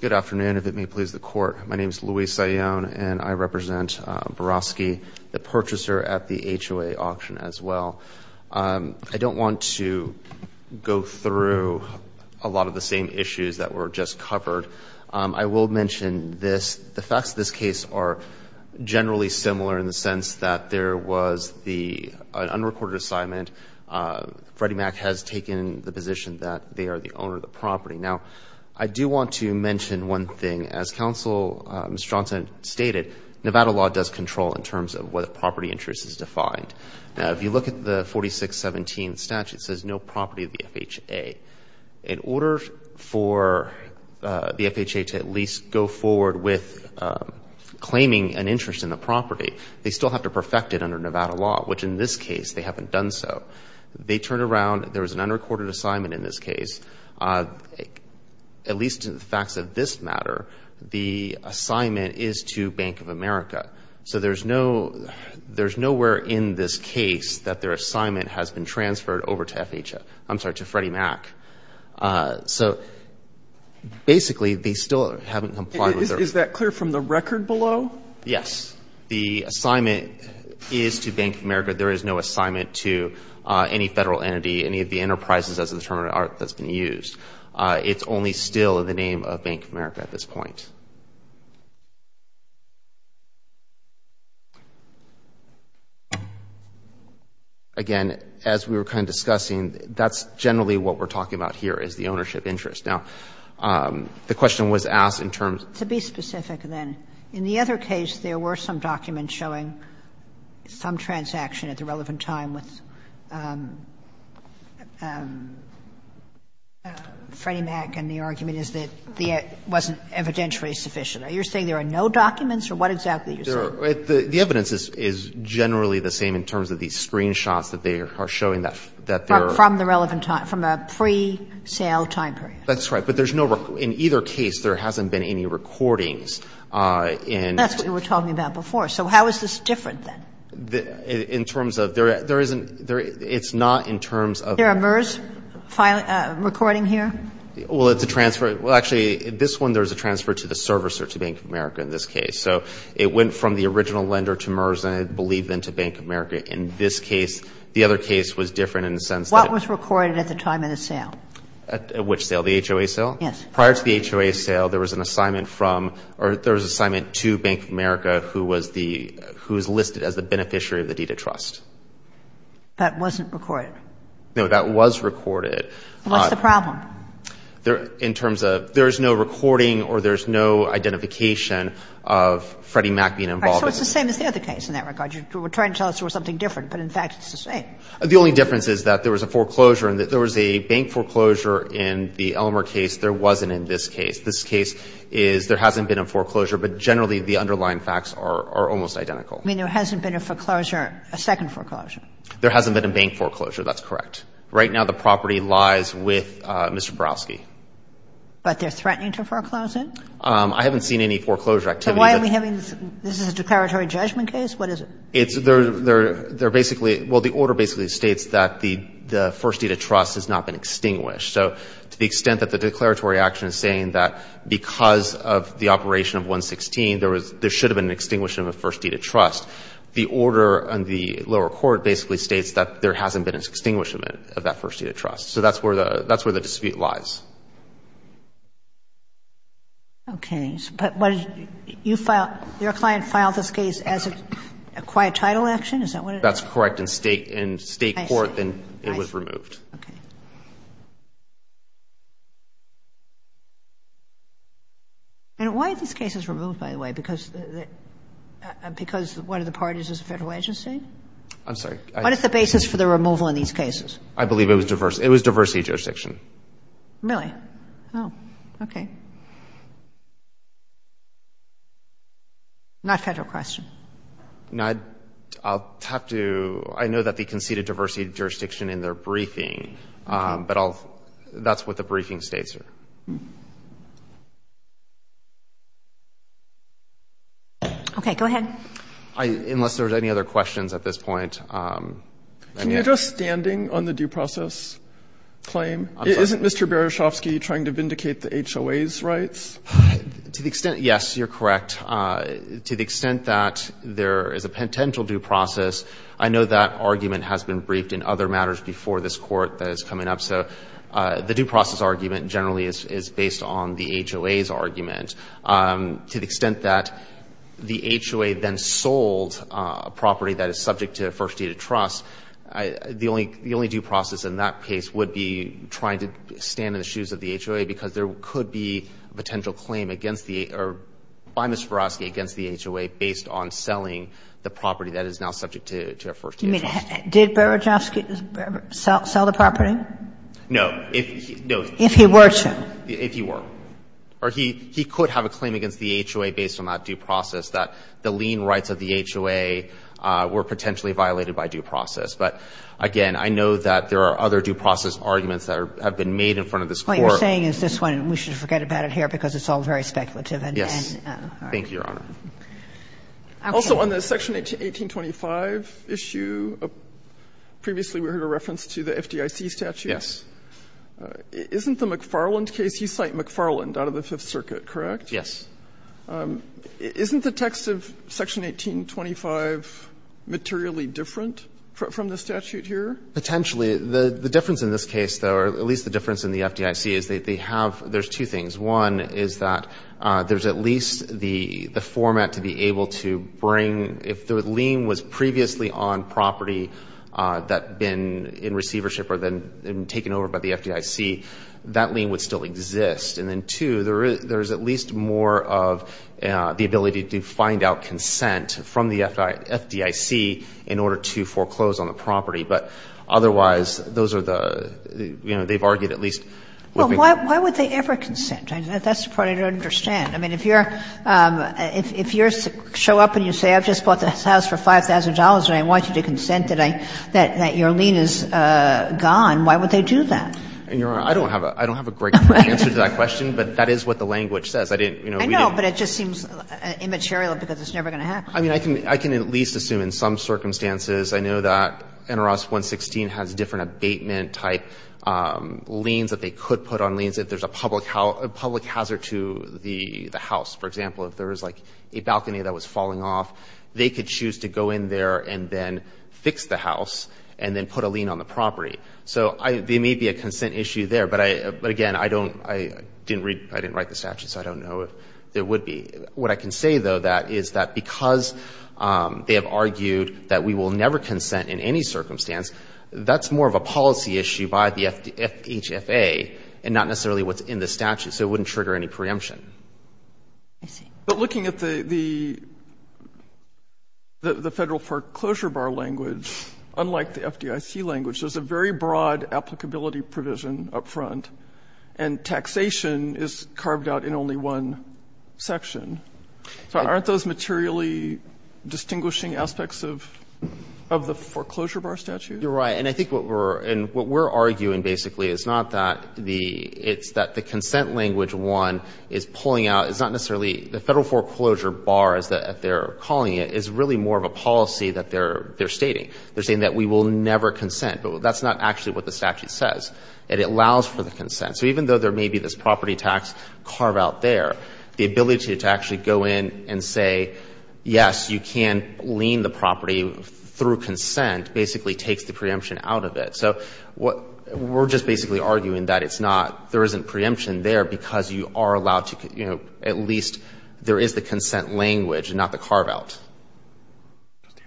Good afternoon. If it may please the court, my name is Louis Sayoun, and I represent Berezovsky, the purchaser at the HOA auction as well. I don't want to go through a lot of the same issues that were just covered. I will mention this. The facts of this case are generally similar in the sense that there was the unrecorded assignment. Freddie Mac has taken the position that they are the property. Now, I do want to mention one thing. As Counsel Mr. Johnson stated, Nevada law does control in terms of whether property interest is defined. Now, if you look at the 4617 statute, it says no property of the FHA. In order for the FHA to at least go forward with claiming an interest in the property, they still have to perfect it under Nevada law, which in this case they haven't done so. They turned around. There was an unrecorded assignment in this case. At least in the facts of this matter, the assignment is to Bank of America. So there's no there's nowhere in this case that their assignment has been transferred over to FHA. I'm sorry, to Freddie Mac. So basically, they still haven't complied with their Is that clear from the record below? Yes. The assignment is to Bank of America. There is no assignment to any Federal entity, any of the enterprises as a term of art that's been used. It's only still in the name of Bank of America at this point. Again, as we were kind of discussing, that's generally what we're talking about here is the ownership interest. Now, the question was asked in terms of So be specific, then. In the other case, there were some documents showing some transaction at the relevant time with Freddie Mac, and the argument is that it wasn't evidentially sufficient. Are you saying there are no documents, or what exactly are you saying? The evidence is generally the same in terms of these screenshots that they are showing that there are From the relevant time, from a pre-sale time period. That's right. But there's no record. In either case, there hasn't been any recordings in That's what you were talking about before. So how is this different, then? In terms of there isn't It's not in terms of Is there a MERS recording here? Well, it's a transfer Well, actually, in this one, there's a transfer to the servicer to Bank of America in this case. So it went from the original lender to MERS, and I believe then to Bank of America. In this case, the other case was different in the sense that What was recorded at the time of the sale? At which sale? The HOA sale? Yes. Prior to the HOA sale, there was an assignment from or there was an assignment to Bank of America who was the who is listed as the beneficiary of the deed of trust. That wasn't recorded. No, that was recorded. What's the problem? In terms of there is no recording or there is no identification of Freddie Mac being involved in it. So it's the same as the other case in that regard. You were trying to tell us there was something different, but in fact, it's the same. The only difference is that there was a foreclosure and that there was a bank foreclosure in the Elmer case. There wasn't in this case. This case is there hasn't been a foreclosure, but generally, the underlying facts are almost identical. I mean, there hasn't been a foreclosure, a second foreclosure. There hasn't been a bank foreclosure. That's correct. Right now, the property lies with Mr. Borowski. But they're threatening to foreclose it? I haven't seen any foreclosure activity. Why are we having this? This is a declaratory judgment case. What is it? It's they're basically, well, the order basically states that the first deed of trust has not been extinguished. So to the extent that the declaratory action is saying that because of the operation of 116, there should have been an extinguishing of a first deed of trust, the order on the lower court basically states that there hasn't been an extinguishment of that first deed of trust. So that's where the dispute lies. Okay. But what did you file, your client filed this case as a quiet title action? Is that what it is? That's correct. In state court, then it was removed. I see. Okay. And why are these cases removed, by the way? Because one of the parties is a federal agency? I'm sorry. What is the basis for the removal in these cases? I believe it was diversity. It was diversity jurisdiction. No, it wasn't. Really? Oh, okay. Not a federal question. No, I'll have to — I know that they conceded diversity jurisdiction in their briefing, but I'll — that's what the briefing states here. Okay. Go ahead. Unless there's any other questions at this point. Can you address standing on the due process claim? I'm sorry. To the extent, Mr. Baraschowski, you're trying to vindicate the HOA's rights? To the extent — yes, you're correct. To the extent that there is a potential due process, I know that argument has been briefed in other matters before this Court that is coming up. So the due process argument generally is based on the HOA's argument. To the extent that the HOA then sold a property that is subject to a first deed of trust, the only due process in that case would be trying to stand in the shoes of the HOA because there could be a potential claim against the — or by Mr. Baraschowski against the HOA based on selling the property that is now subject to a first deed of trust. You mean, did Baraschowski sell the property? No. If he were to. If he were. Or he could have a claim against the HOA based on that due process, that the lien rights of the HOA were potentially violated by due process. But, again, I know that there are other due process arguments that have been made in front of this Court. What you're saying is this one. We should forget about it here because it's all very speculative. Yes. Thank you, Your Honor. Also, on the Section 1825 issue, previously we heard a reference to the FDIC statute. Yes. Isn't the McFarland case — you cite McFarland out of the Fifth Circuit, correct? Yes. Isn't the text of Section 1825 materially different from the statute here? Potentially. The difference in this case, though, or at least the difference in the FDIC, is that they have — there's two things. One is that there's at least the format to be able to bring — if the lien was previously on property that had been in receivership or then taken over by the FDIC, that lien would still exist. And then, two, there is at least more of the ability to find out consent from the FDIC in order to foreclose on the property. But otherwise, those are the — you know, they've argued at least what we can do. Well, why would they ever consent? That's the part I don't understand. I mean, if you're — if you show up and you say, I've just bought this house for $5,000 and I want you to consent that I — that your lien is gone, why would they do that? And, Your Honor, I don't have a great answer to that question. But that is what the language says. I didn't — you know, we didn't — I know, but it just seems immaterial because it's never going to happen. I mean, I can — I can at least assume in some circumstances. I know that NRAS 116 has different abatement-type liens that they could put on liens if there's a public hazard to the house. For example, if there was, like, a balcony that was falling off, they could choose to go in there and then fix the house and then put a lien on the property. So I — there may be a consent issue there, but I — but, again, I don't — I didn't read — I didn't write the statute, so I don't know if there would be. What I can say, though, that is that because they have argued that we will never consent in any circumstance, that's more of a policy issue by the FD — HFA and not necessarily what's in the statute. So it wouldn't trigger any preemption. I see. But looking at the — the Federal foreclosure bar language, unlike the FDIC language, there's a very broad applicability provision up front. And taxation is carved out in only one section. So aren't those materially distinguishing aspects of — of the foreclosure bar statute? You're right. And I think what we're — and what we're arguing, basically, is not that the — it's that the consent language, one, is pulling out — it's not necessarily — the Federal foreclosure bar, as they're calling it, is really more of a policy that they're — they're stating. They're saying that we will never consent. But that's not actually what the statute says. It allows for the consent. So even though there may be this property tax carve-out there, the ability to actually go in and say, yes, you can lien the property through consent, basically takes the preemption out of it. So what — we're just basically arguing that it's not — there isn't preemption there because you are allowed to — you know, at least there is the consent language, not the carve-out.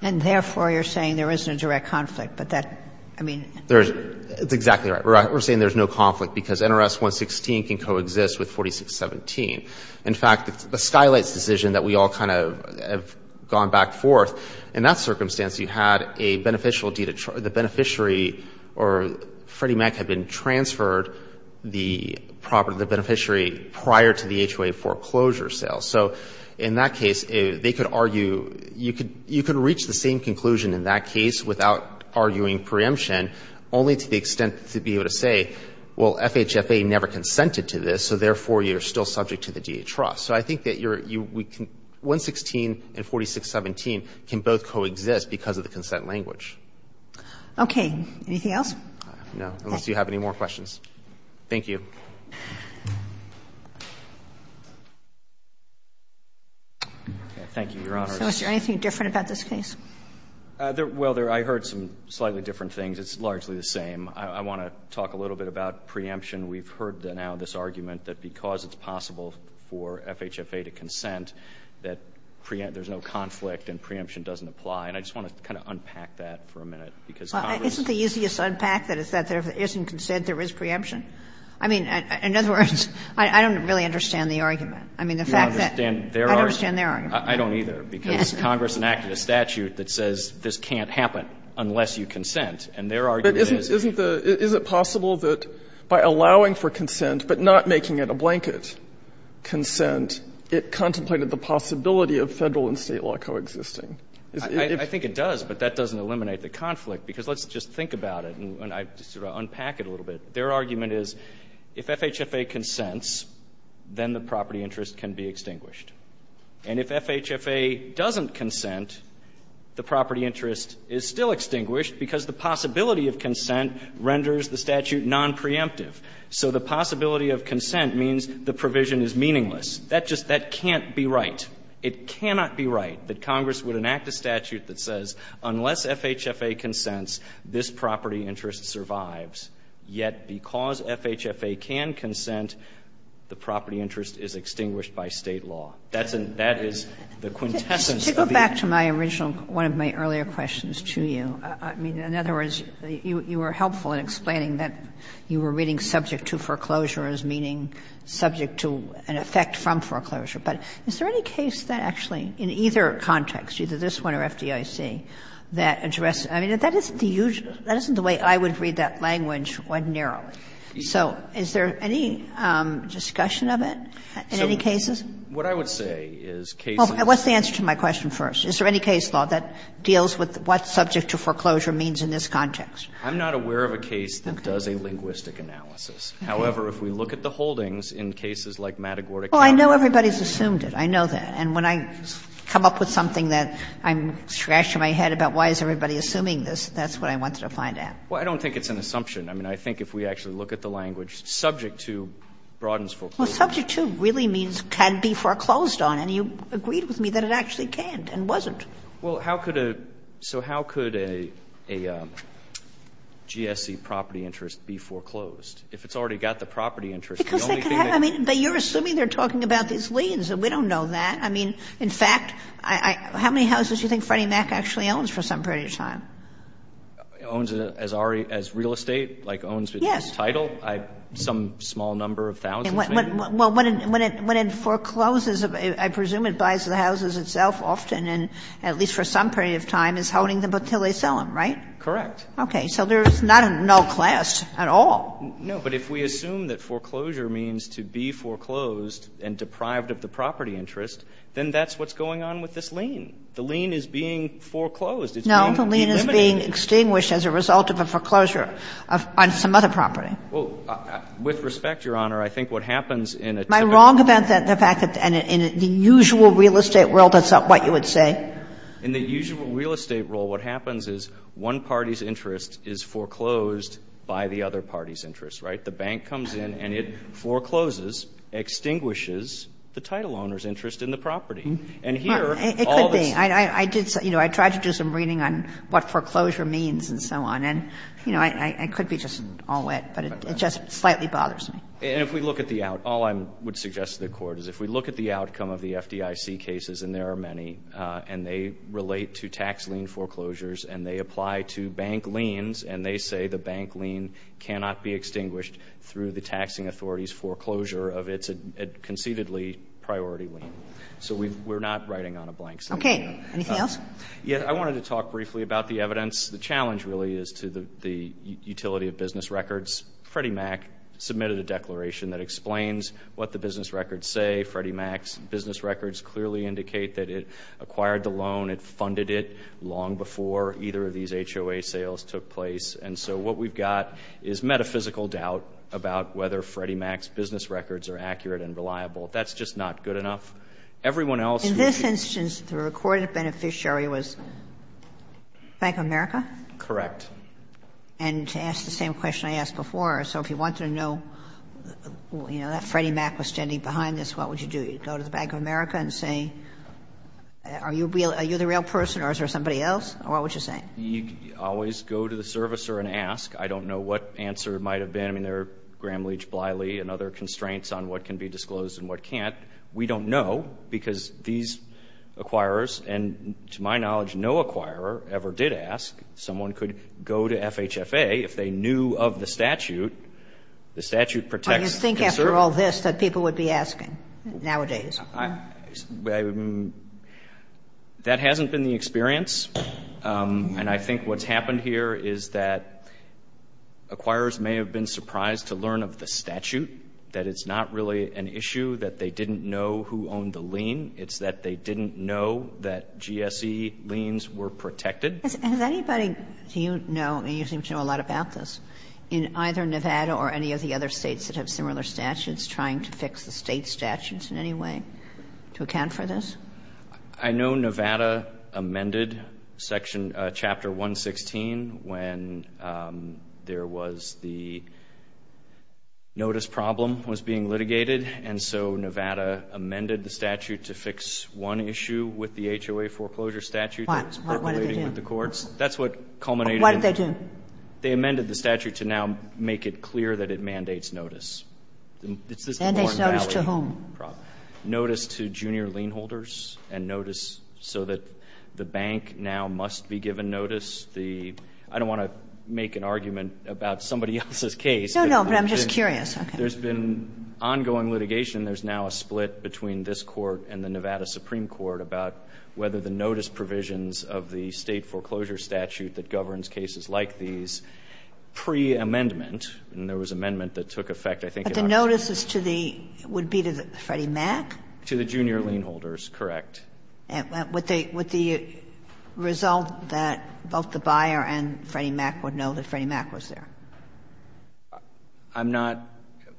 And therefore, you're saying there isn't a direct conflict, but that — I mean — There's — it's exactly right. We're — we're saying there's no conflict because NRS 116 can coexist with 4617. In fact, the Skylights decision that we all kind of have gone back forth, in that circumstance, you had a beneficial deed of — the beneficiary or Freddie Mac had been transferred the property of the beneficiary prior to the HOA foreclosure sale. So in that case, they could argue — you could — you could reach the same conclusion in that case without arguing preemption, only to the extent to be able to say, well, FHFA never consented to this, so therefore you're still subject to the D.A. trust. So I think that you're — we can — 116 and 4617 can both coexist because of the consent language. Okay. Anything else? No. Unless you have any more questions. Thank you. Thank you, Your Honor. So is there anything different about this case? Well, there — I heard some slightly different things. It's largely the same. I want to talk a little bit about preemption. We've heard now this argument that because it's possible for FHFA to consent, that preempt — there's no conflict and preemption doesn't apply. And I just want to kind of unpack that for a minute, because Congress — Well, isn't the easiest unpack that is that if there isn't consent, there is preemption? I mean, in other words, I don't really understand the argument. I mean, the fact that — I don't understand their argument. I don't either, because Congress enacted a statute that says this can't happen unless you consent. And their argument is — But isn't the — is it possible that by allowing for consent but not making it a blanket consent, it contemplated the possibility of Federal and State law coexisting? I think it does, but that doesn't eliminate the conflict, because let's just think about it, and I sort of unpack it a little bit. Their argument is if FHFA consents, then the property interest can be extinguished. And if FHFA doesn't consent, the property interest is still extinguished, because the possibility of consent renders the statute nonpreemptive. So the possibility of consent means the provision is meaningless. That just — that can't be right. It cannot be right that Congress would enact a statute that says unless FHFA consents, this property interest survives. Yet because FHFA can consent, the property interest is extinguished by State law. That's a — that is the quintessence of the — To go back to my original — one of my earlier questions to you, I mean, in other words, you were helpful in explaining that you were reading subject to foreclosure as meaning subject to an effect from foreclosure. But is there any case that actually in either context, either this one or FDIC, that addresses — I mean, that isn't the usual — that isn't the way I would read that language ordinarily. So is there any discussion of it in any cases? What I would say is cases— What's the answer to my question first? Is there any case law that deals with what subject to foreclosure means in this context? I'm not aware of a case that does a linguistic analysis. However, if we look at the holdings in cases like Matagorda County— Well, I know everybody's assumed it. I know that. And when I come up with something that I'm — scratch my head about why is everybody assuming this, that's what I wanted to find out. Well, I don't think it's an assumption. I mean, I think if we actually look at the language, subject to broadens foreclosure. Well, subject to really means can be foreclosed on. And you agreed with me that it actually can't and wasn't. Well, how could a — so how could a GSC property interest be foreclosed? If it's already got the property interest, the only thing that— Because they could have — I mean, but you're assuming they're talking about these liens, and we don't know that. I mean, in fact, I — how many houses do you think Freddie Mac actually owns for some period of time? Owns it as real estate? Like, owns it as title? Yes. Some small number of thousands, maybe? Well, when it forecloses, I presume it buys the houses itself often, and at least for some period of time is holding them until they sell them, right? Correct. Okay. So there's not a null class at all. No. But if we assume that foreclosure means to be foreclosed and deprived of the property interest, then that's what's going on with this lien. The lien is being foreclosed. It's being eliminated. No. The lien is being extinguished as a result of a foreclosure on some other property. Well, with respect, Your Honor, I think what happens in a typical— Am I wrong about the fact that in the usual real estate world, that's not what you would say? In the usual real estate world, what happens is one party's interest is foreclosed by the other party's interest, right? The bank comes in and it forecloses, extinguishes the title owner's interest in the property. And here, all this— It could be. I did say, you know, I tried to do some reading on what foreclosure means and so on, and, you know, I could be just all wet, but it just slightly bothers me. And if we look at the outcome, all I would suggest to the Court is if we look at the outcome of the FDIC cases, and there are many, and they relate to tax lien foreclosures, and they apply to bank liens, and they say the bank lien cannot be extinguished through the taxing authority's foreclosure of its concededly priority lien. So we're not writing on a blank slate here. Okay. Anything else? Yeah. I wanted to talk briefly about the evidence. The challenge really is to the utility of business records. Freddie Mac submitted a declaration that explains what the business records say. Freddie Mac's business records clearly indicate that it acquired the loan, it funded it, long before either of these HOA sales took place. And so what we've got is metaphysical doubt about whether Freddie Mac's business records are accurate and reliable. That's just not good enough. Everyone else who ---- In this instance, the recorded beneficiary was Bank of America? Correct. And to ask the same question I asked before, so if you wanted to know, you know, that Freddie Mac was standing behind this, what would you do? Go to the Bank of America and say, are you the real person or is there somebody else? What would you say? You always go to the servicer and ask. I don't know what answer it might have been. I mean, there are Gramm-Leach-Bliley and other constraints on what can be disclosed and what can't. We don't know because these acquirers, and to my knowledge, no acquirer ever did ask. Someone could go to FHFA. If they knew of the statute, the statute protects conservers. I don't know if that's the answer to all this that people would be asking nowadays. That hasn't been the experience. And I think what's happened here is that acquirers may have been surprised to learn of the statute, that it's not really an issue that they didn't know who owned the lien. It's that they didn't know that GSE liens were protected. Has anybody, do you know, and you seem to know a lot about this, in either Nevada or any of the other states that have similar statutes, trying to fix the state statutes in any way to account for this? I know Nevada amended Section, Chapter 116, when there was the notice problem was being litigated. And so Nevada amended the statute to fix one issue with the HOA foreclosure statute. What? What did they do? That's what culminated. What did they do? They amended the statute to now make it clear that it mandates notice. Mandates notice to whom? Notice to junior lien holders and notice so that the bank now must be given notice. I don't want to make an argument about somebody else's case. No, no. But I'm just curious. There's been ongoing litigation. There's now a split between this Court and the Nevada Supreme Court about whether the notice provisions of the state foreclosure statute that governs cases like these pre-amendment, and there was amendment that took effect, I think, in October. But the notice is to the, would be to the Freddie Mac? To the junior lien holders, correct. Would the result that both the buyer and Freddie Mac would know that Freddie Mac was there? I'm not.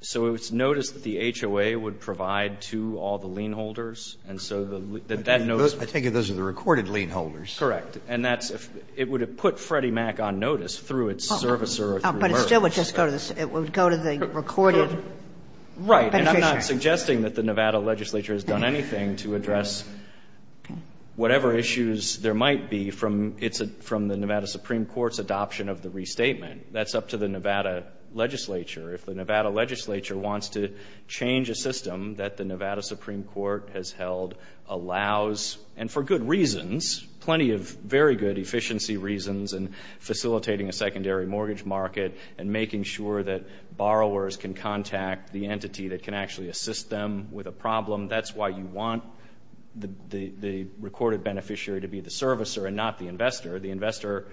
So it's notice that the HOA would provide to all the lien holders, and so that that notice. I take it those are the recorded lien holders. Correct. And that's if, it would have put Freddie Mac on notice through its servicer or through merge. But it still would just go to the, it would go to the recorded beneficiary. Right. And I'm not suggesting that the Nevada legislature has done anything to address whatever issues there might be from, it's from the Nevada Supreme Court's adoption of the restatement. That's up to the Nevada legislature. If the Nevada legislature wants to change a system that the Nevada Supreme Court has held, allows, and for good reasons, plenty of very good efficiency reasons, and facilitating a secondary mortgage market, and making sure that borrowers can contact the entity that can actually assist them with a problem. That's why you want the recorded beneficiary to be the servicer and not the investor. The investor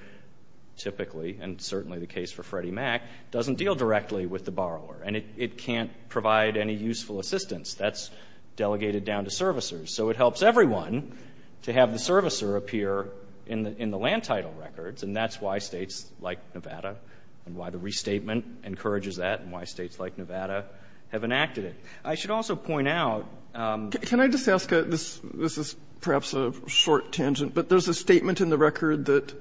typically, and certainly the case for Freddie Mac, doesn't deal directly with the borrower. And it can't provide any useful assistance. That's delegated down to servicers. So it helps everyone to have the servicer appear in the land title records. And that's why states like Nevada, and why the restatement encourages that, and why states like Nevada have enacted it. I should also point out. Can I just ask, this is perhaps a short tangent, but there's a statement in the record that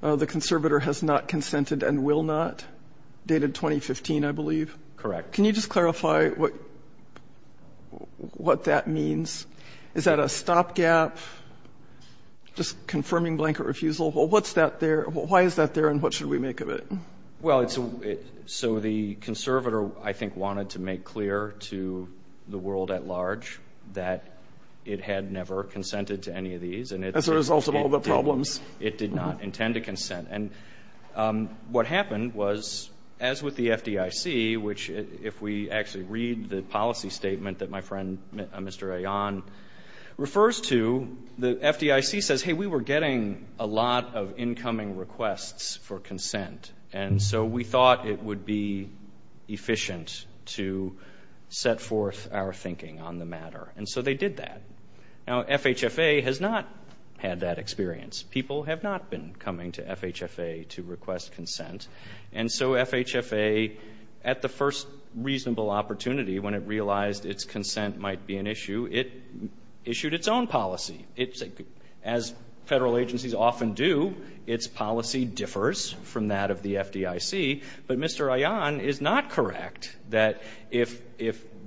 the conservator has not consented and will not, dated 2015, I believe? Can you just clarify what that means? Is that a stopgap, just confirming blanket refusal? What's that there? Why is that there, and what should we make of it? Well, so the conservator, I think, wanted to make clear to the world at large that it had never consented to any of these. As a result of all the problems. It did not intend to consent. And what happened was, as with the FDIC, which if we actually read the policy statement that my friend, Mr. Aon, refers to, the FDIC says, hey, we were getting a lot of incoming requests for consent. And so we thought it would be efficient to set forth our thinking on the matter. And so they did that. Now, FHFA has not had that experience. People have not been coming to FHFA to request consent. And so FHFA, at the first reasonable opportunity, when it realized its consent might be an issue, it issued its own policy. As federal agencies often do, its policy differs from that of the FDIC. But Mr. Aon is not correct that if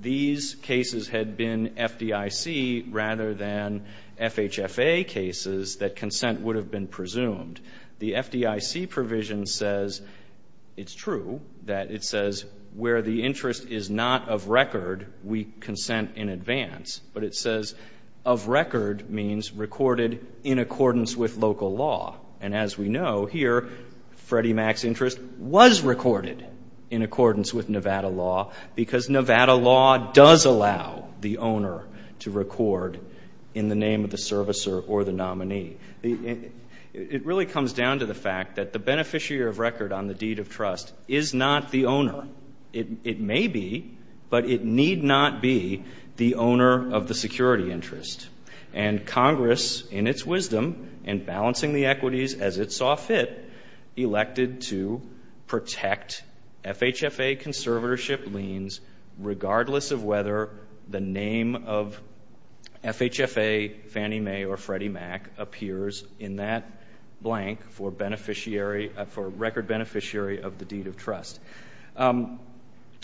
these cases had been FDIC rather than FHFA cases, that consent would have been presumed. The FDIC provision says, it's true, that it says where the interest is not of record, we consent in advance. But it says of record means recorded in accordance with local law. And as we know, here, Freddie Mac's interest was recorded in accordance with Nevada law because Nevada law does allow the owner to record in the name of the servicer or the nominee. It really comes down to the fact that the beneficiary of record on the deed of trust is not the owner. It may be, but it need not be the owner of the security interest. And Congress, in its wisdom and balancing the equities as it saw fit, elected to protect FHFA conservatorship liens regardless of whether the name of FHFA, Fannie Mae, or Freddie Mac appears in that blank for a record beneficiary of the deed of trust.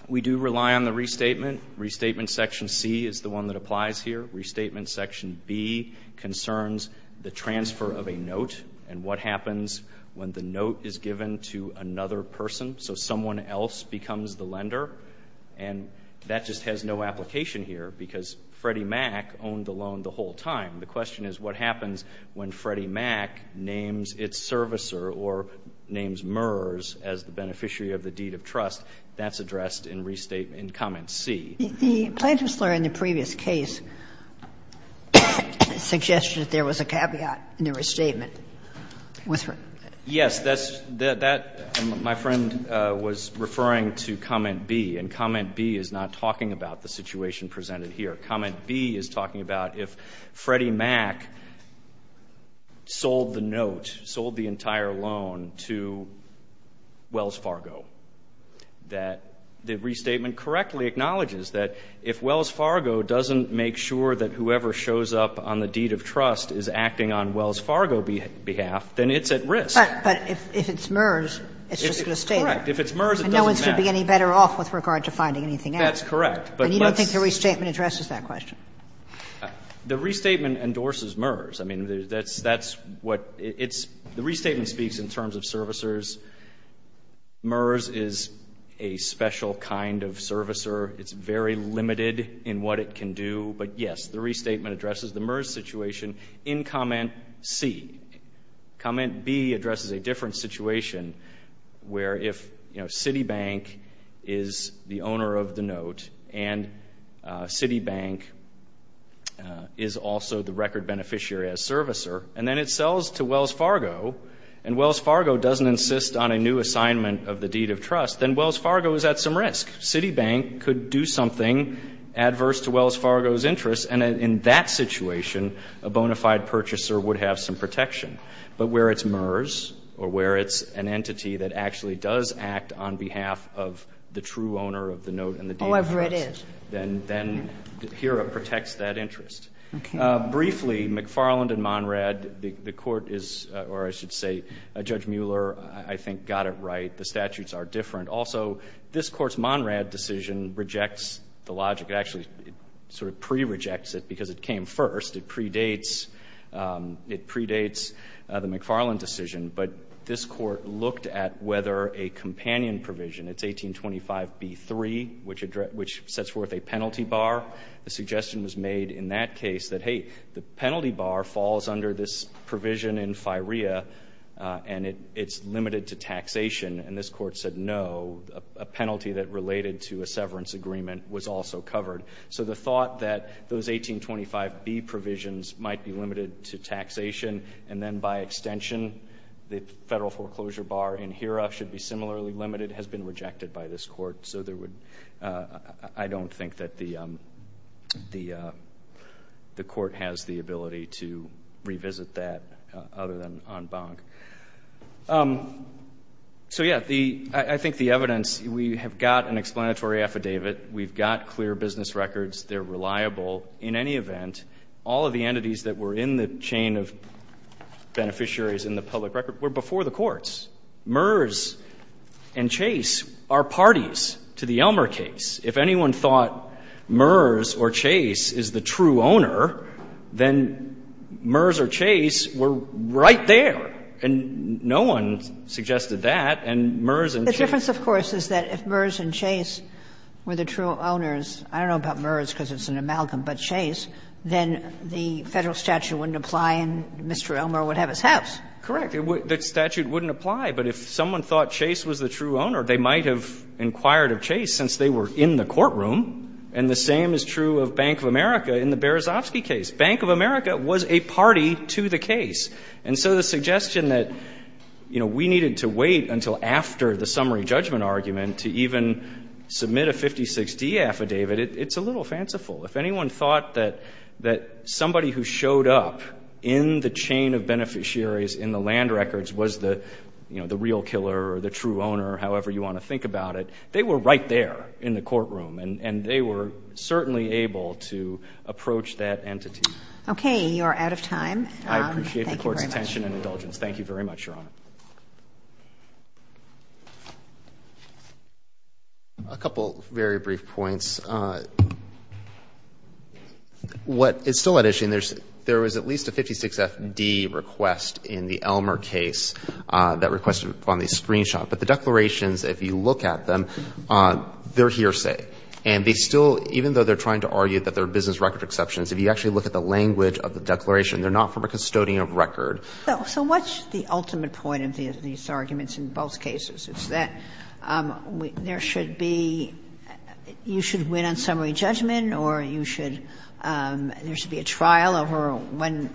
We do rely on the restatement. Restatement section C is the one that applies here. Restatement section B concerns the transfer of a note and what happens when the note is given to another person. So someone else becomes the lender. And that just has no application here because Freddie Mac owned the loan the whole time. The question is what happens when Freddie Mac names its servicer or names MERS as the beneficiary of the deed of trust. That's addressed in restatement in comment C. The plaintiff's lawyer in the previous case suggested that there was a caveat in the restatement. Yes. My friend was referring to comment B. And comment B is not talking about the situation presented here. Comment B is talking about if Freddie Mac sold the note, sold the entire loan to Wells Fargo, that the restatement correctly acknowledges that if Wells Fargo doesn't make sure that whoever shows up on the deed of trust is acting on Wells Fargo behalf, then it's at risk. But if it's MERS, it's just going to stay there. Correct. If it's MERS, it doesn't matter. And no one should be any better off with regard to finding anything else. That's correct. But you don't think the restatement addresses that question? The restatement endorses MERS. I mean, that's what it's the restatement speaks in terms of servicers. MERS is a special kind of servicer. It's very limited in what it can do. But, yes, the restatement addresses the MERS situation in comment C. Comment B addresses a different situation where if, you know, Citibank is the owner of the note and Citibank is also the record beneficiary as servicer, and then it sells to Wells Fargo, and Wells Fargo doesn't insist on a new assignment of the deed of trust, then Wells Fargo is at some risk. Citibank could do something adverse to Wells Fargo's interest. And in that situation, a bona fide purchaser would have some protection. But where it's MERS or where it's an entity that actually does act on behalf of the true owner of the note and the deed of trust, then here it protects that interest. Briefly, McFarland and Monrad, the Court is, or I should say Judge Mueller, I think, got it right. The statutes are different. Also, this Court's Monrad decision rejects the logic. It actually sort of pre-rejects it because it came first. It predates the McFarland decision. But this Court looked at whether a companion provision, it's 1825b3, which sets forth a penalty bar. The suggestion was made in that case that, hey, the penalty bar falls under this provision in FIREA and it's limited to taxation. And this Court said, no, a penalty that related to a severance agreement was also covered. So the thought that those 1825b provisions might be limited to taxation and then by extension, the federal foreclosure bar in HERA should be similarly limited has been rejected by this Court. So there would, I don't think that the Court has the ability to revisit that other than en banc. So, yeah, I think the evidence, we have got an explanatory affidavit. We've got clear business records. They're reliable. In any event, all of the entities that were in the chain of beneficiaries in the public record were before the courts. MERS and Chase are parties to the Elmer case. If anyone thought MERS or Chase is the true owner, then MERS or Chase were right The question, of course, is that if MERS and Chase were the true owners, I don't know about MERS because it's an amalgam, but Chase, then the Federal statute wouldn't apply and Mr. Elmer would have his house. Correct. The statute wouldn't apply. But if someone thought Chase was the true owner, they might have inquired of Chase since they were in the courtroom. And the same is true of Bank of America in the Berezovsky case. Bank of America was a party to the case. And so the suggestion that we needed to wait until after the summary judgment argument to even submit a 56D affidavit, it's a little fanciful. If anyone thought that somebody who showed up in the chain of beneficiaries in the land records was the real killer or the true owner, however you want to think about it, they were right there in the courtroom. And they were certainly able to approach that entity. Okay. You are out of time. Thank you very much. I appreciate the court's attention and indulgence. Thank you very much, Your Honor. A couple very brief points. What is still at issue, and there was at least a 56FD request in the Elmer case that requested on the screenshot. But the declarations, if you look at them, they're hearsay. And they still, even though they're trying to argue that they're business record exceptions, if you actually look at the language of the declaration, they're not from a custodian of record. So what's the ultimate point of these arguments in both cases? Is that there should be, you should win on summary judgment or you should, there should be a trial over when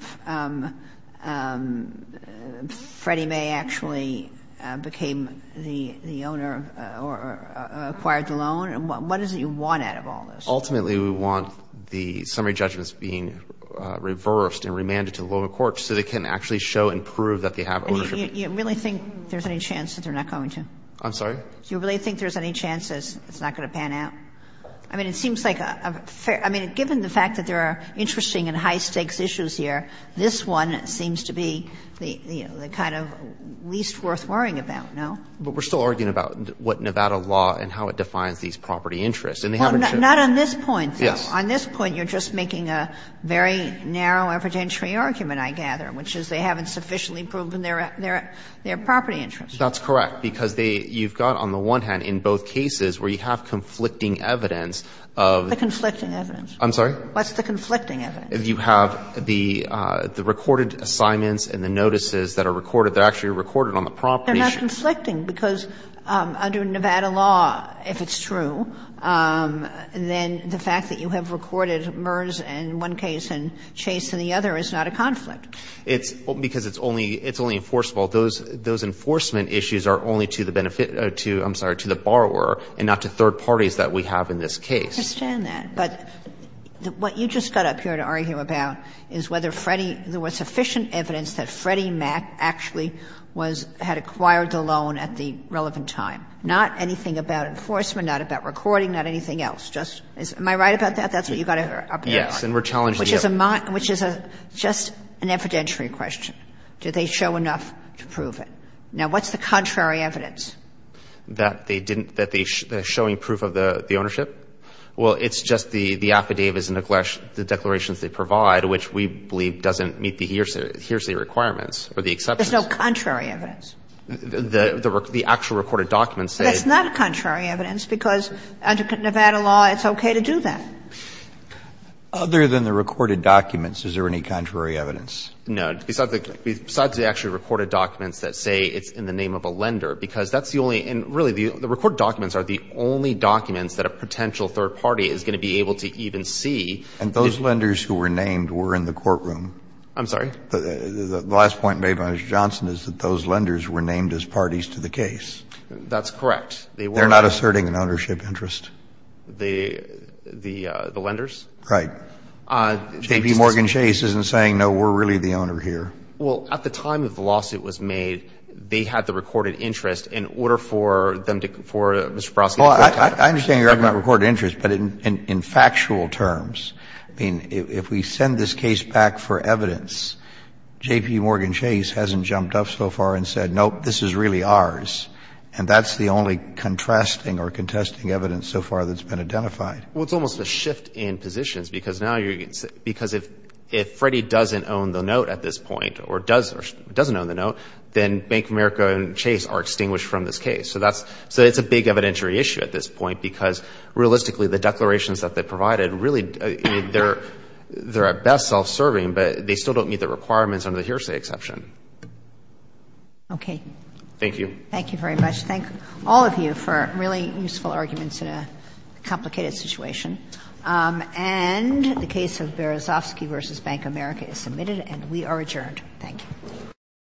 Freddie May actually became the owner or acquired the loan? What is it you want out of all this? Ultimately, we want the summary judgments being reversed and remanded to the lower courts so they can actually show and prove that they have ownership. Do you really think there's any chance that they're not going to? I'm sorry? Do you really think there's any chance that it's not going to pan out? I mean, it seems like a fair, I mean, given the fact that there are interesting and high stakes issues here, this one seems to be the kind of least worth worrying about, no? But we're still arguing about what Nevada law and how it defines these property interests. Well, not on this point, though. Yes. On this point, you're just making a very narrow evidentiary argument, I gather, which is they haven't sufficiently proven their property interests. That's correct. Because they, you've got on the one hand in both cases where you have conflicting evidence of. The conflicting evidence. I'm sorry? What's the conflicting evidence? You have the recorded assignments and the notices that are recorded. They're actually recorded on the property sheets. But they're not conflicting, because under Nevada law, if it's true, then the fact that you have recorded Meurs in one case and Chase in the other is not a conflict. It's because it's only enforceable. Those enforcement issues are only to the benefit, I'm sorry, to the borrower and not to third parties that we have in this case. I understand that. But what you just got up here to argue about is whether Freddie, there was sufficient evidence that Freddie Mac actually was, had acquired the loan at the relevant time. Not anything about enforcement, not about recording, not anything else. Just, am I right about that? That's what you got up here. Yes. And we're challenging you. Which is just an evidentiary question. Do they show enough to prove it? Now, what's the contrary evidence? That they didn't, that they're showing proof of the ownership? Well, it's just the affidavits and the declarations they provide, which we believe doesn't meet the hearsay requirements or the exceptions. There's no contrary evidence. The actual recorded documents say. That's not contrary evidence because under Nevada law it's okay to do that. Other than the recorded documents, is there any contrary evidence? No. Besides the actually recorded documents that say it's in the name of a lender, because that's the only, and really the recorded documents are the only documents that a potential third party is going to be able to even see. And those lenders who were named were in the courtroom? I'm sorry? The last point made by Mr. Johnson is that those lenders were named as parties to the case. That's correct. They were. They're not asserting an ownership interest? The lenders? Right. J.P. Morgan Chase isn't saying, no, we're really the owner here. Well, at the time of the lawsuit was made, they had the recorded interest in order for them to, for Mr. Barofsky. I understand you're talking about recorded interest, but in factual terms, I mean, if we send this case back for evidence, J.P. Morgan Chase hasn't jumped up so far and said, nope, this is really ours. And that's the only contrasting or contesting evidence so far that's been identified. Well, it's almost a shift in positions because now you're, because if Freddie doesn't own the note at this point or doesn't own the note, then Bank of America and Chase are extinguished from this case. So that's, so it's a big evidentiary issue at this point because realistically the declarations that they provided really, they're at best self-serving, but they still don't meet the requirements under the hearsay exception. Okay. Thank you. Thank you very much. Thank all of you for really useful arguments in a complicated situation. And the case of Barofsky v. Bank of America is submitted and we are adjourned. Thank you.